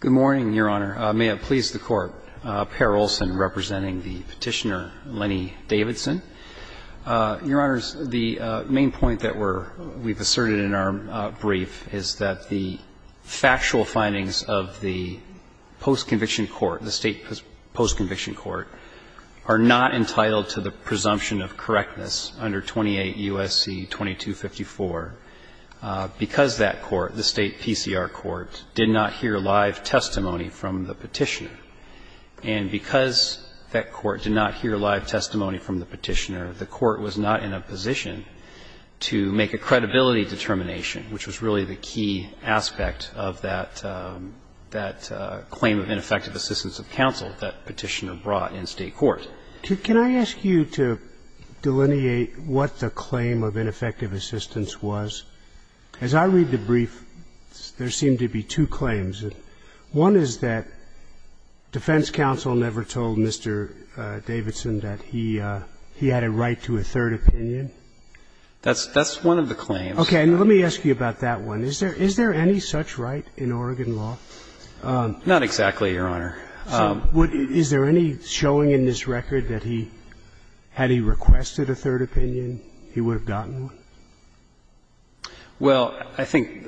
Good morning, Your Honor. May it please the Court, Per Olson representing the petitioner, Lennie Davidson. Your Honors, the main point that we've asserted in our brief is that the factual findings of the post-conviction court, the state post-conviction court, are not entitled to the presumption of correctness under 28 U.S.C. 2254 because that court, the state PCR court, did not hear live testimony from the petitioner. And because that court did not hear live testimony from the petitioner, the court was not in a position to make a credibility determination, which was really the key aspect of that claim of ineffective assistance of counsel that petitioner brought in state court. Can I ask you to delineate what the claim of ineffective assistance was? As I read the brief, there seemed to be two claims. One is that defense counsel never told Mr. Davidson that he had a right to a third opinion. That's one of the claims. Okay. And let me ask you about that one. Is there any such right in Oregon law? Not exactly, Your Honor. Is there any showing in this record that he, had he requested a third opinion, he would have gotten one? Well, I think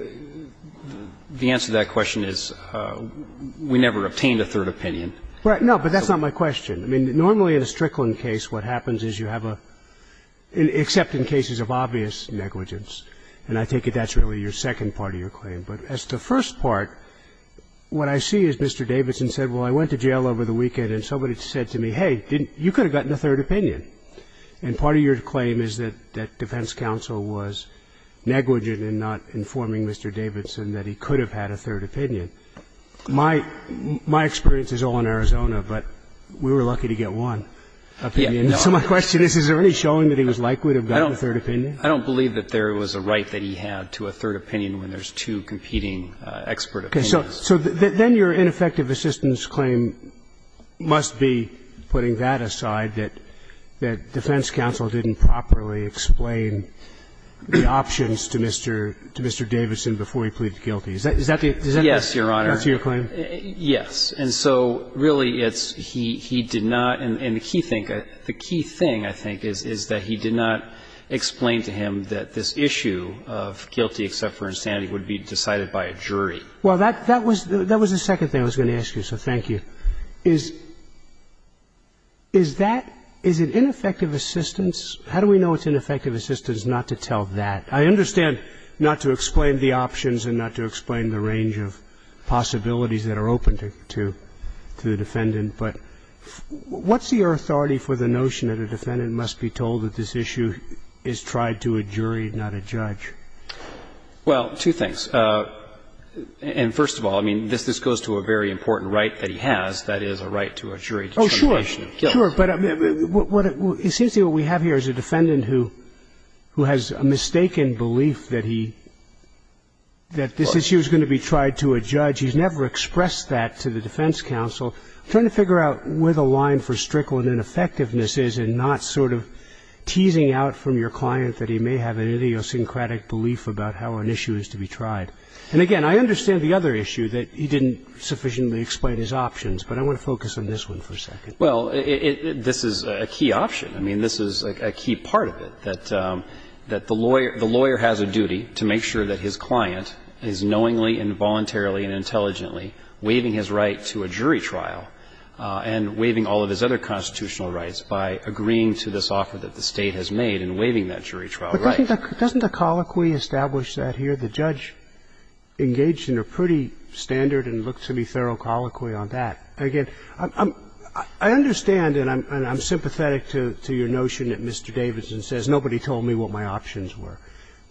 the answer to that question is we never obtained a third opinion. No, but that's not my question. I mean, normally in a Strickland case, what happens is you have a, except in cases of obvious negligence, and I take it that's really your second part of your claim. But as to the first part, what I see is Mr. Davidson said, well, I went to jail over the weekend and somebody said to me, hey, you could have gotten a third opinion. And part of your claim is that defense counsel was negligent in not informing Mr. Davidson that he could have had a third opinion. My experience is all in Arizona, but we were lucky to get one opinion. So my question is, is there any showing that he was likely to have gotten a third opinion? I don't believe that there was a right that he had to a third opinion when there's two competing expert opinions. Okay. So then your ineffective assistance claim must be putting that aside, that you believe that defense counsel didn't properly explain the options to Mr. Davidson before he pleaded guilty. Is that the answer to your claim? Yes, Your Honor, yes. And so, really, it's he did not, and the key thing, I think, is that he did not explain to him that this issue of guilty except for insanity would be decided by a jury. Well, that was the second thing I was going to ask you, so thank you. Is that – is it ineffective assistance? How do we know it's ineffective assistance not to tell that? I understand not to explain the options and not to explain the range of possibilities that are open to the defendant, but what's your authority for the notion that a defendant must be told that this issue is tried to a jury, not a judge? Well, two things. And first of all, I mean, this goes to a very important right that he has, that is, a right to a jury determination. Oh, sure, sure, but it seems to me what we have here is a defendant who has a mistaken belief that he – that this issue is going to be tried to a judge. He's never expressed that to the defense counsel. I'm trying to figure out where the line for strickland ineffectiveness is in not sort of teasing out from your client that he may have an idiosyncratic belief about how an issue is tried. And again, I understand the other issue that he didn't sufficiently explain his options, but I want to focus on this one for a second. Well, it – this is a key option. I mean, this is a key part of it, that the lawyer has a duty to make sure that his client is knowingly and voluntarily and intelligently waiving his right to a jury trial and waiving all of his other constitutional rights by agreeing to this offer that the State has made in waiving that jury trial right. But doesn't the colloquy establish that here? The judge engaged in a pretty standard and looked to me thorough colloquy on that. Again, I'm – I understand and I'm sympathetic to your notion that Mr. Davidson says nobody told me what my options were,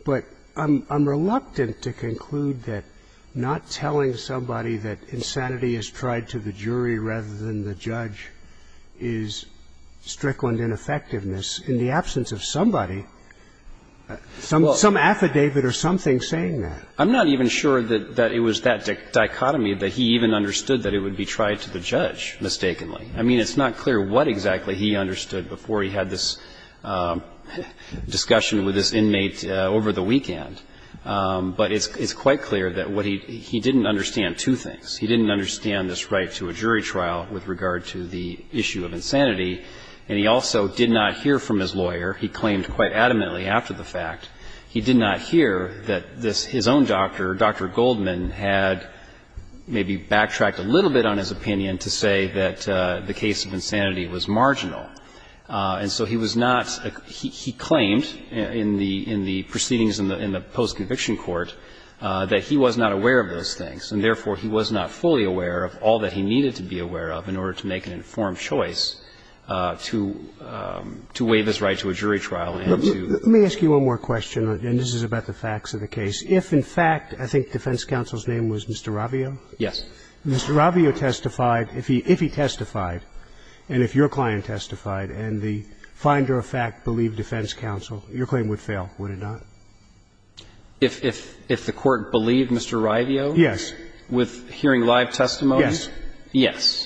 but I'm reluctant to conclude that not telling somebody that insanity is tried to the jury rather than the judge is strickland ineffectiveness in the absence of somebody. Some affidavit or something saying that. I'm not even sure that it was that dichotomy that he even understood that it would be tried to the judge mistakenly. I mean, it's not clear what exactly he understood before he had this discussion with this inmate over the weekend. But it's quite clear that what he – he didn't understand two things. He didn't understand this right to a jury trial with regard to the issue of insanity, and he also did not hear from his lawyer. He claimed quite adamantly after the fact. He did not hear that this – his own doctor, Dr. Goldman, had maybe backtracked a little bit on his opinion to say that the case of insanity was marginal. And so he was not – he claimed in the proceedings in the post-conviction court that he was not aware of those things, and therefore he was not fully aware of all that he needed to be aware of in order to make an informed choice to waive his right to a jury trial and to do so. Roberts. Let me ask you one more question, and this is about the facts of the case. If in fact I think defense counsel's name was Mr. Ravio? Yes. If Mr. Ravio testified – if he testified and if your client testified and the finder of fact believed defense counsel, your claim would fail, would it not? If the court believed Mr. Ravio? Yes. With hearing live testimony? Yes. Yes.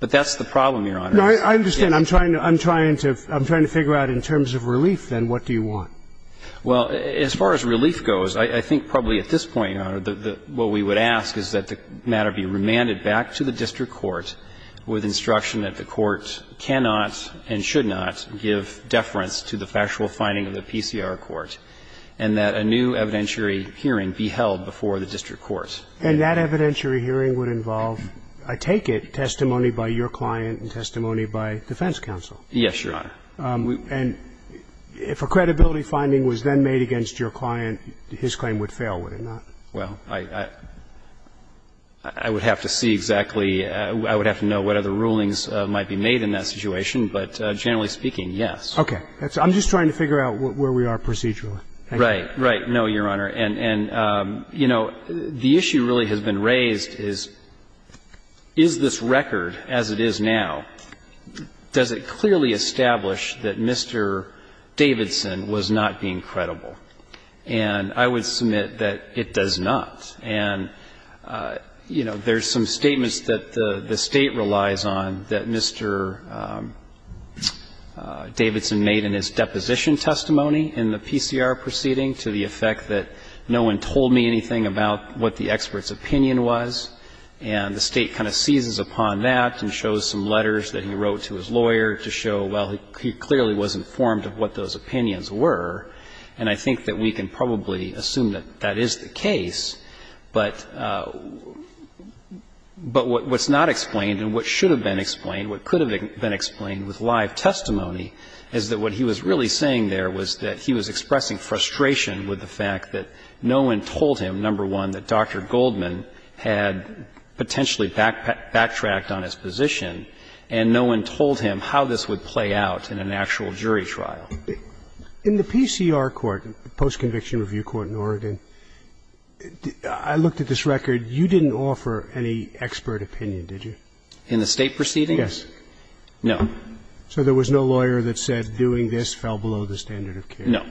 But that's the problem, Your Honor. No, I understand. I'm trying to – I'm trying to – I'm trying to figure out in terms of relief, then, what do you want? Well, as far as relief goes, I think probably at this point, Your Honor, what we would ask is that the matter be remanded back to the district court with instruction that the court cannot and should not give deference to the factual finding of the PCR court and that a new evidentiary hearing be held before the district court. And that evidentiary hearing would involve, I take it, testimony by your client and testimony by defense counsel? Yes, Your Honor. And if a credibility finding was then made against your client, his claim would fail, would it not? Well, I would have to see exactly – I would have to know what other rulings might be made in that situation, but generally speaking, yes. Okay. I'm just trying to figure out where we are procedurally. Right. Right. No, Your Honor. And, you know, the issue really has been raised is, is this record as it is now, does it clearly establish that Mr. Davidson was not being credible? And I would submit that it does not. And, you know, there's some statements that the State relies on that Mr. Davidson made in his deposition testimony in the PCR proceeding to the effect that Mr. Davidson was not being credible. No one told me anything about what the expert's opinion was. And the State kind of seizes upon that and shows some letters that he wrote to his lawyer to show, well, he clearly was informed of what those opinions were. And I think that we can probably assume that that is the case. But what's not explained and what should have been explained, what could have been explained with live testimony is that what he was really saying there was that he was expressing frustration with the fact that no one told him, number one, that Dr. Goldman had potentially backtracked on his position, and no one told him how this would play out in an actual jury trial. In the PCR court, post-conviction review court in Oregon, I looked at this record. You didn't offer any expert opinion, did you? In the State proceedings? Yes. No. So there was no lawyer that said doing this fell below the standard of care? No.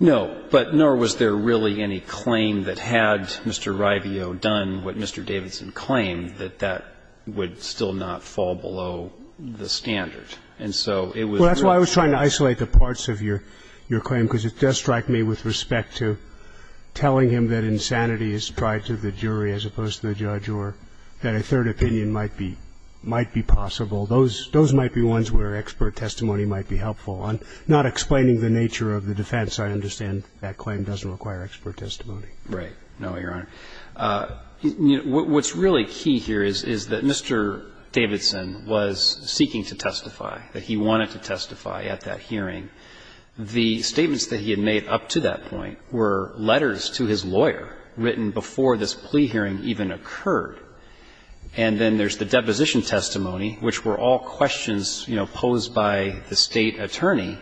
No. But nor was there really any claim that had Mr. Rivio done what Mr. Davidson claimed, that that would still not fall below the standard. And so it was really false. Well, that's why I was trying to isolate the parts of your claim, because it does strike me with respect to telling him that insanity is tried to the jury as opposed to the judge, or that a third opinion might be possible. Those might be ones where expert testimony might be helpful. I'm not explaining the nature of the defense. I understand that claim doesn't require expert testimony. Right. No, Your Honor. What's really key here is that Mr. Davidson was seeking to testify, that he wanted to testify at that hearing. The statements that he had made up to that point were letters to his lawyer written before this plea hearing even occurred. And then there's the deposition testimony, which were all questions, you know, posed by the State attorney.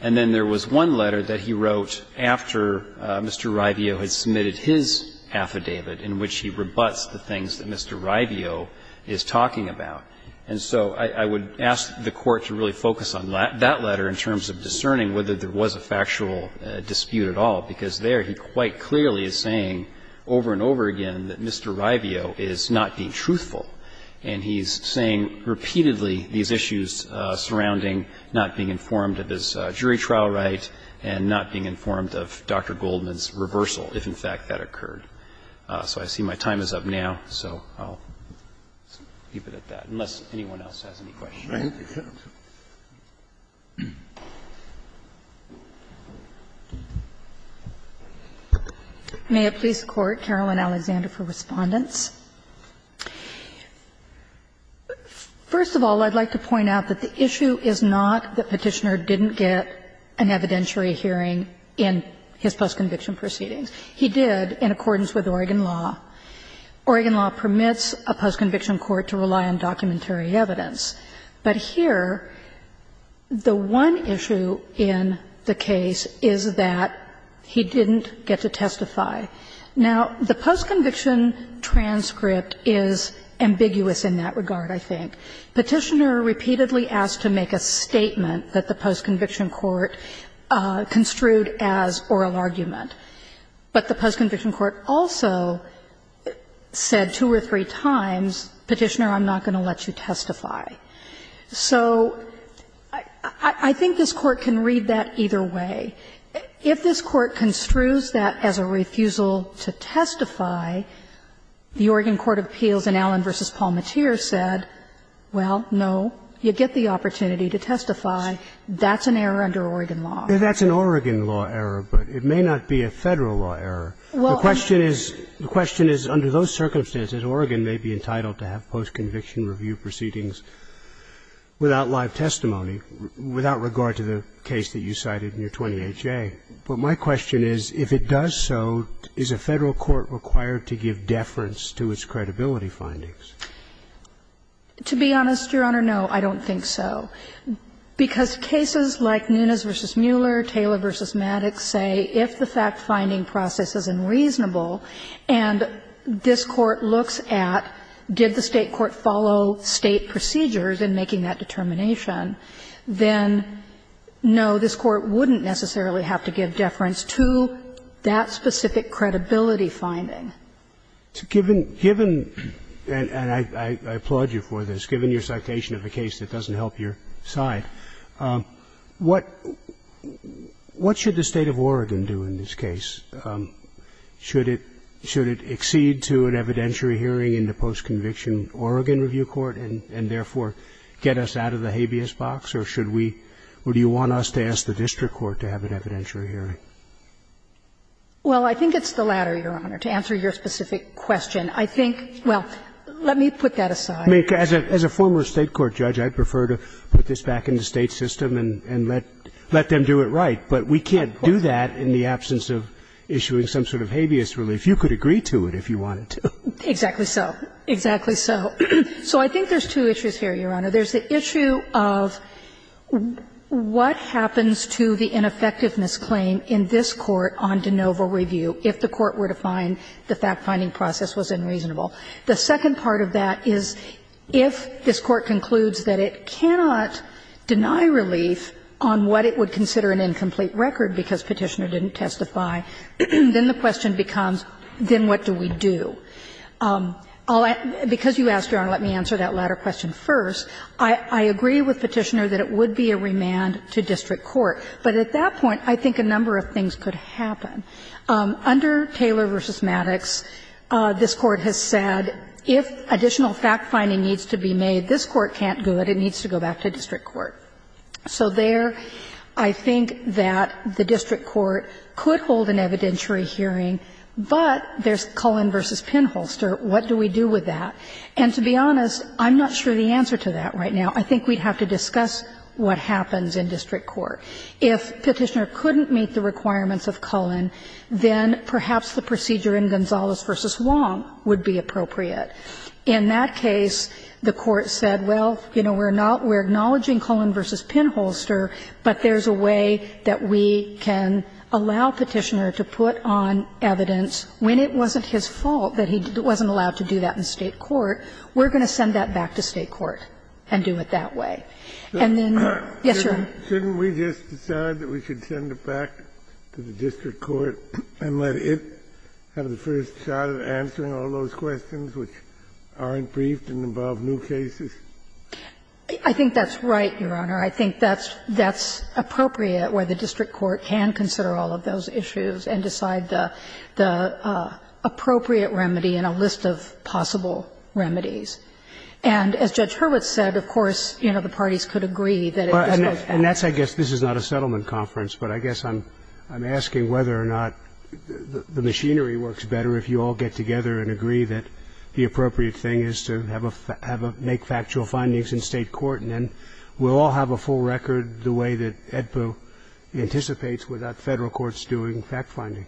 And then there was one letter that he wrote after Mr. Rivio had submitted his affidavit, in which he rebuts the things that Mr. Rivio is talking about. And so I would ask the Court to really focus on that letter in terms of discerning whether there was a factual dispute at all, because there he quite clearly is saying over and over again that Mr. Rivio is not being truthful. And he's saying repeatedly these issues surrounding not being informed of his jury trial right and not being informed of Dr. Goldman's reversal, if in fact that occurred. So I see my time is up now, so I'll leave it at that, unless anyone else has any questions. Thank you, counsel. May it please the Court, Carolyn Alexander for Respondents. First of all, I'd like to point out that the issue is not that Petitioner didn't get an evidentiary hearing in his postconviction proceedings. He did in accordance with Oregon law. Oregon law permits a postconviction court to rely on documentary evidence. But here, the one issue in the case is that he didn't get to testify. Now, the postconviction transcript is ambiguous in that regard, I think. Petitioner repeatedly asked to make a statement that the postconviction court construed as oral argument. But the postconviction court also said two or three times, Petitioner, I'm not going to let you testify. So I think this Court can read that either way. If this Court construes that as a refusal to testify, the Oregon court of appeals in Allen v. Paul Mateer said, well, no, you get the opportunity to testify, that's an error under Oregon law. That's an Oregon law error, but it may not be a Federal law error. The question is, under those circumstances, Oregon may be entitled to have postconviction review proceedings without live testimony, without regard to the case that you cited in your 28-J. But my question is, if it does so, is a Federal court required to give deference to its credibility findings? To be honest, Your Honor, no, I don't think so. Because cases like Nunes v. Mueller, Taylor v. Maddox say, if the fact-finding process is unreasonable, and this Court looks at, did the State court follow State procedures in making that determination, then no, this Court wouldn't necessarily have to give deference to that specific credibility finding. To give an – and I applaud you for this, given your citation of a case that doesn't help your side, what should the State of Oregon do in this case? Should it – should it accede to an evidentiary hearing in the postconviction Oregon review court and therefore get us out of the habeas box, or should we – or do you want us to ask the district court to have an evidentiary hearing? Well, I think it's the latter, Your Honor, to answer your specific question. I think – well, let me put that aside. I mean, as a former State court judge, I'd prefer to put this back in the State system and let – let them do it right, but we can't do that in the absence of issuing some sort of habeas relief. You could agree to it if you wanted to. Exactly so. Exactly so. So I think there's two issues here, Your Honor. There's the issue of what happens to the ineffectiveness claim in this Court on de novo review if the Court were to find the fact-finding process was unreasonable. The second part of that is if this Court concludes that it cannot deny relief on what it would consider an incomplete record because Petitioner didn't testify, then the question becomes, then what do we do? Because you asked, Your Honor, let me answer that latter question first. I agree with Petitioner that it would be a remand to district court, but at that point I think a number of things could happen. Under Taylor v. Maddox, this Court has said if additional fact-finding needs to be made, this Court can't do it. It needs to go back to district court. So there I think that the district court could hold an evidentiary hearing, but there's Cullen v. Pinholster. What do we do with that? And to be honest, I'm not sure the answer to that right now. I think we'd have to discuss what happens in district court. If Petitioner couldn't meet the requirements of Cullen, then perhaps the procedure in Gonzalez v. Wong would be appropriate. In that case, the Court said, well, you know, we're not we're acknowledging Cullen v. Pinholster, but there's a way that we can allow Petitioner to put on evidence when it wasn't his fault that he wasn't allowed to do that in state court, we're going to send that back to state court and do it that way. And then, yes, Your Honor. Shouldn't we just decide that we should send it back to the district court and let it have the first shot at answering all those questions which aren't briefed and involve new cases? I think that's right, Your Honor. I think that's appropriate, where the district court can consider all of those issues and decide the appropriate remedy in a list of possible remedies. And as Judge Hurwitz said, of course, you know, the parties could agree that it's And that's, I guess, this is not a settlement conference, but I guess I'm asking whether or not the machinery works better if you all get together and agree that the appropriate thing is to have a make factual findings in state court, and then we'll all have a full record the way that AEDPA anticipates without Federal courts doing fact-finding.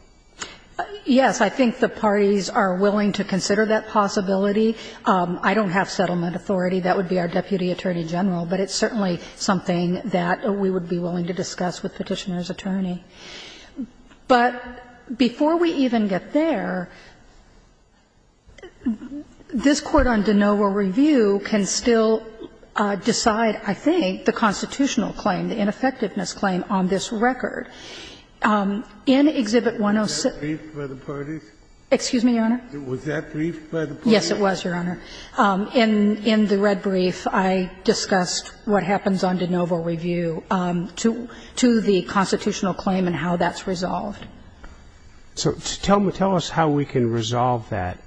Yes, I think the parties are willing to consider that possibility. I don't have settlement authority. That would be our Deputy Attorney General. But it's certainly something that we would be willing to discuss with Petitioner's attorney. But before we even get there, this court on de novo review can still decide, I think, the constitutional claim, the ineffectiveness claim, on this record. In Exhibit 106. Was that briefed by the parties? Excuse me, Your Honor? Yes, it was, Your Honor. In the red brief, I discussed what happens on de novo review to the constitutional claim and how that's resolved. So tell me, tell us how we can resolve that,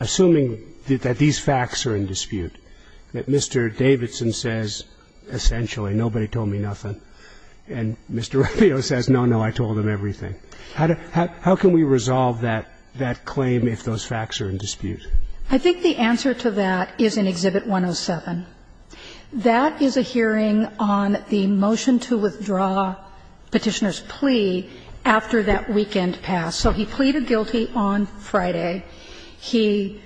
assuming that these facts are in dispute, that Mr. Davidson says, essentially, nobody told me nothing, and Mr. Ruffio says, no, no, I told him everything. How can we resolve that claim if those facts are in dispute? I think the answer to that is in Exhibit 107. That is a hearing on the motion to withdraw Petitioner's plea after that weekend passed. So he pleaded guilty on Friday. He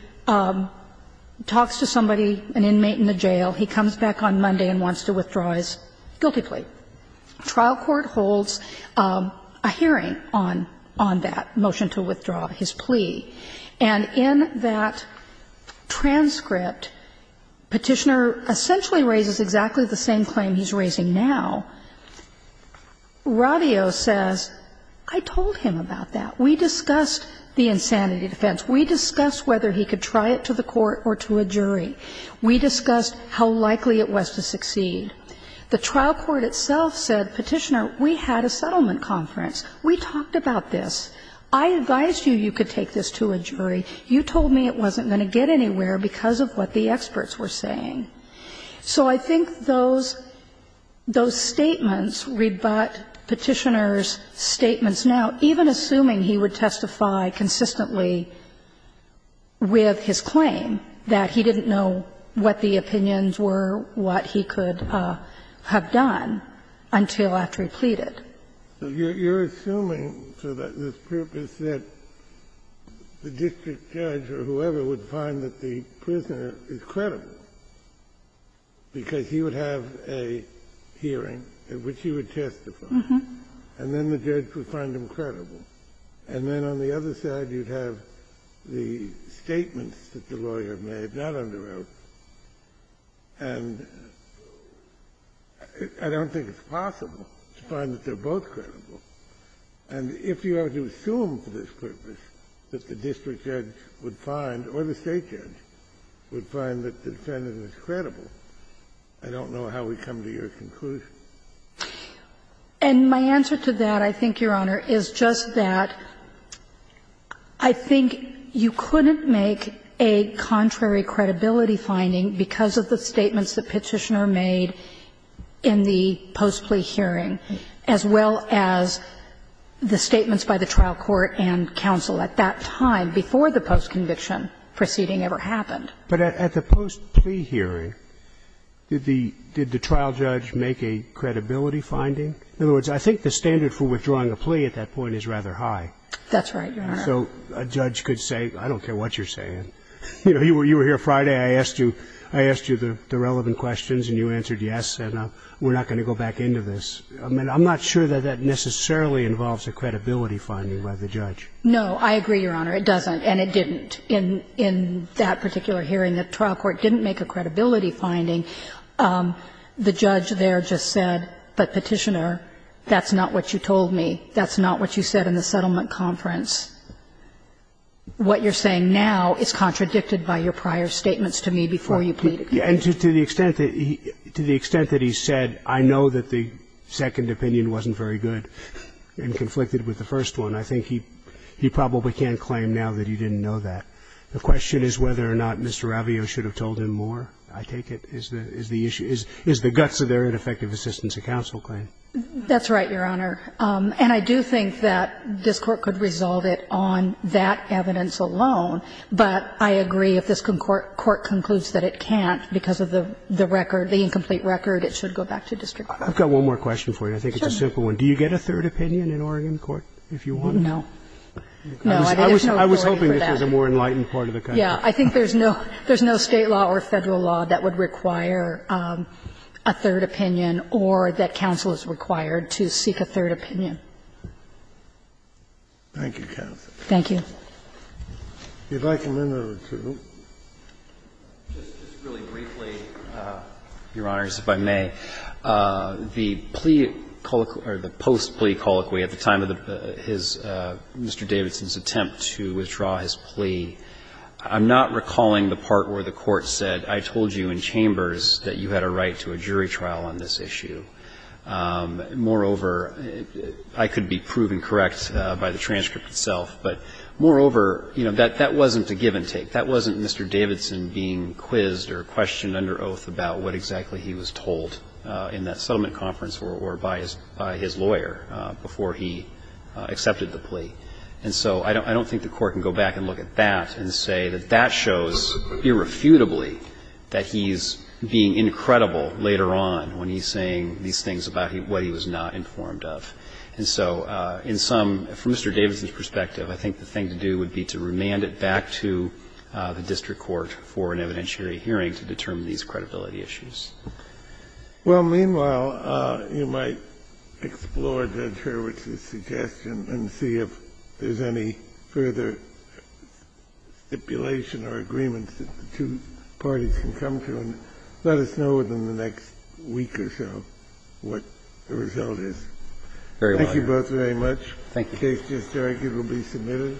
talks to somebody, an inmate in the jail. He comes back on Monday and wants to withdraw his guilty plea. Trial court holds a hearing on that motion to withdraw his plea. And in that transcript, Petitioner essentially raises exactly the same claim he's raising now. Ruffio says, I told him about that. We discussed the insanity defense. We discussed whether he could try it to the court or to a jury. We discussed how likely it was to succeed. The trial court itself said, Petitioner, we had a settlement conference. We talked about this. I advised you you could take this to a jury. You told me it wasn't going to get anywhere because of what the experts were saying. So I think those statements rebut Petitioner's statements now, even assuming he would testify consistently with his claim, that he didn't know what the opinions were, what he could have done until after he pleaded. You're assuming for this purpose that the district judge or whoever would find that the prisoner is credible because he would have a hearing in which he would testify, and then the judge would find him credible. And then on the other side, you'd have the statements that the lawyer made, not under the circumstances, but they're both credible. And if you are to assume for this purpose that the district judge would find, or the state judge would find that the defendant is credible, I don't know how we come to your conclusion. And my answer to that, I think, Your Honor, is just that I think you couldn't make a contrary credibility finding because of the statements that Petitioner made in the post-plea hearing, as well as the statements by the trial court and counsel at that time, before the post-conviction proceeding ever happened. But at the post-plea hearing, did the trial judge make a credibility finding? In other words, I think the standard for withdrawing a plea at that point is rather high. That's right, Your Honor. So a judge could say, I don't care what you're saying. You know, you were here Friday. I asked you the relevant questions, and you answered yes, and we're not going to go back into this. I mean, I'm not sure that that necessarily involves a credibility finding by the judge. No, I agree, Your Honor. It doesn't, and it didn't. In that particular hearing, the trial court didn't make a credibility finding. The judge there just said, but Petitioner, that's not what you told me. That's not what you said in the settlement conference. What you're saying now is contradicted by your prior statements to me before you pleaded guilty. And to the extent that he said, I know that the second opinion wasn't very good and conflicted with the first one, I think he probably can't claim now that he didn't know that. The question is whether or not Mr. Ravio should have told him more, I take it, is the issue. Is the guts of their ineffective assistance a counsel claim? That's right, Your Honor. And I do think that this Court could resolve it on that evidence alone, but I agree if this Court concludes that it can't because of the record, the incomplete record, it should go back to district court. I've got one more question for you. I think it's a simple one. Do you get a third opinion in Oregon court if you want? No. No, I think there's no going for that. I was hoping this was a more enlightened part of the country. Yeah. I think there's no State law or Federal law that would require a third opinion or that counsel is required to seek a third opinion. Thank you, counsel. Thank you. Would you like a minute or two? Just really briefly, Your Honors, if I may, the plea or the post-plea colloquy at the time of his, Mr. Davidson's attempt to withdraw his plea, I'm not recalling the part where the Court said, I told you in chambers that you had a right to a jury trial on this issue. Moreover, I could be proven correct by the transcript itself, but moreover, you know, that wasn't a give and take. That wasn't Mr. Davidson being quizzed or questioned under oath about what exactly he was told in that settlement conference or by his lawyer before he accepted the plea. And so I don't think the Court can go back and look at that and say that that shows irrefutably that he's being incredible later on when he's saying these things about what he was not informed of. And so in some, from Mr. Davidson's perspective, I think the thing to do would be to remand it back to the district court for an evidentiary hearing to determine these credibility issues. Well, meanwhile, you might explore Judge Hurwitz's suggestion and see if there's any further stipulation or agreement that the two parties can come to and let us know within the next week or so what the result is. Thank you both very much. Thank you. The case is just arguably submitted.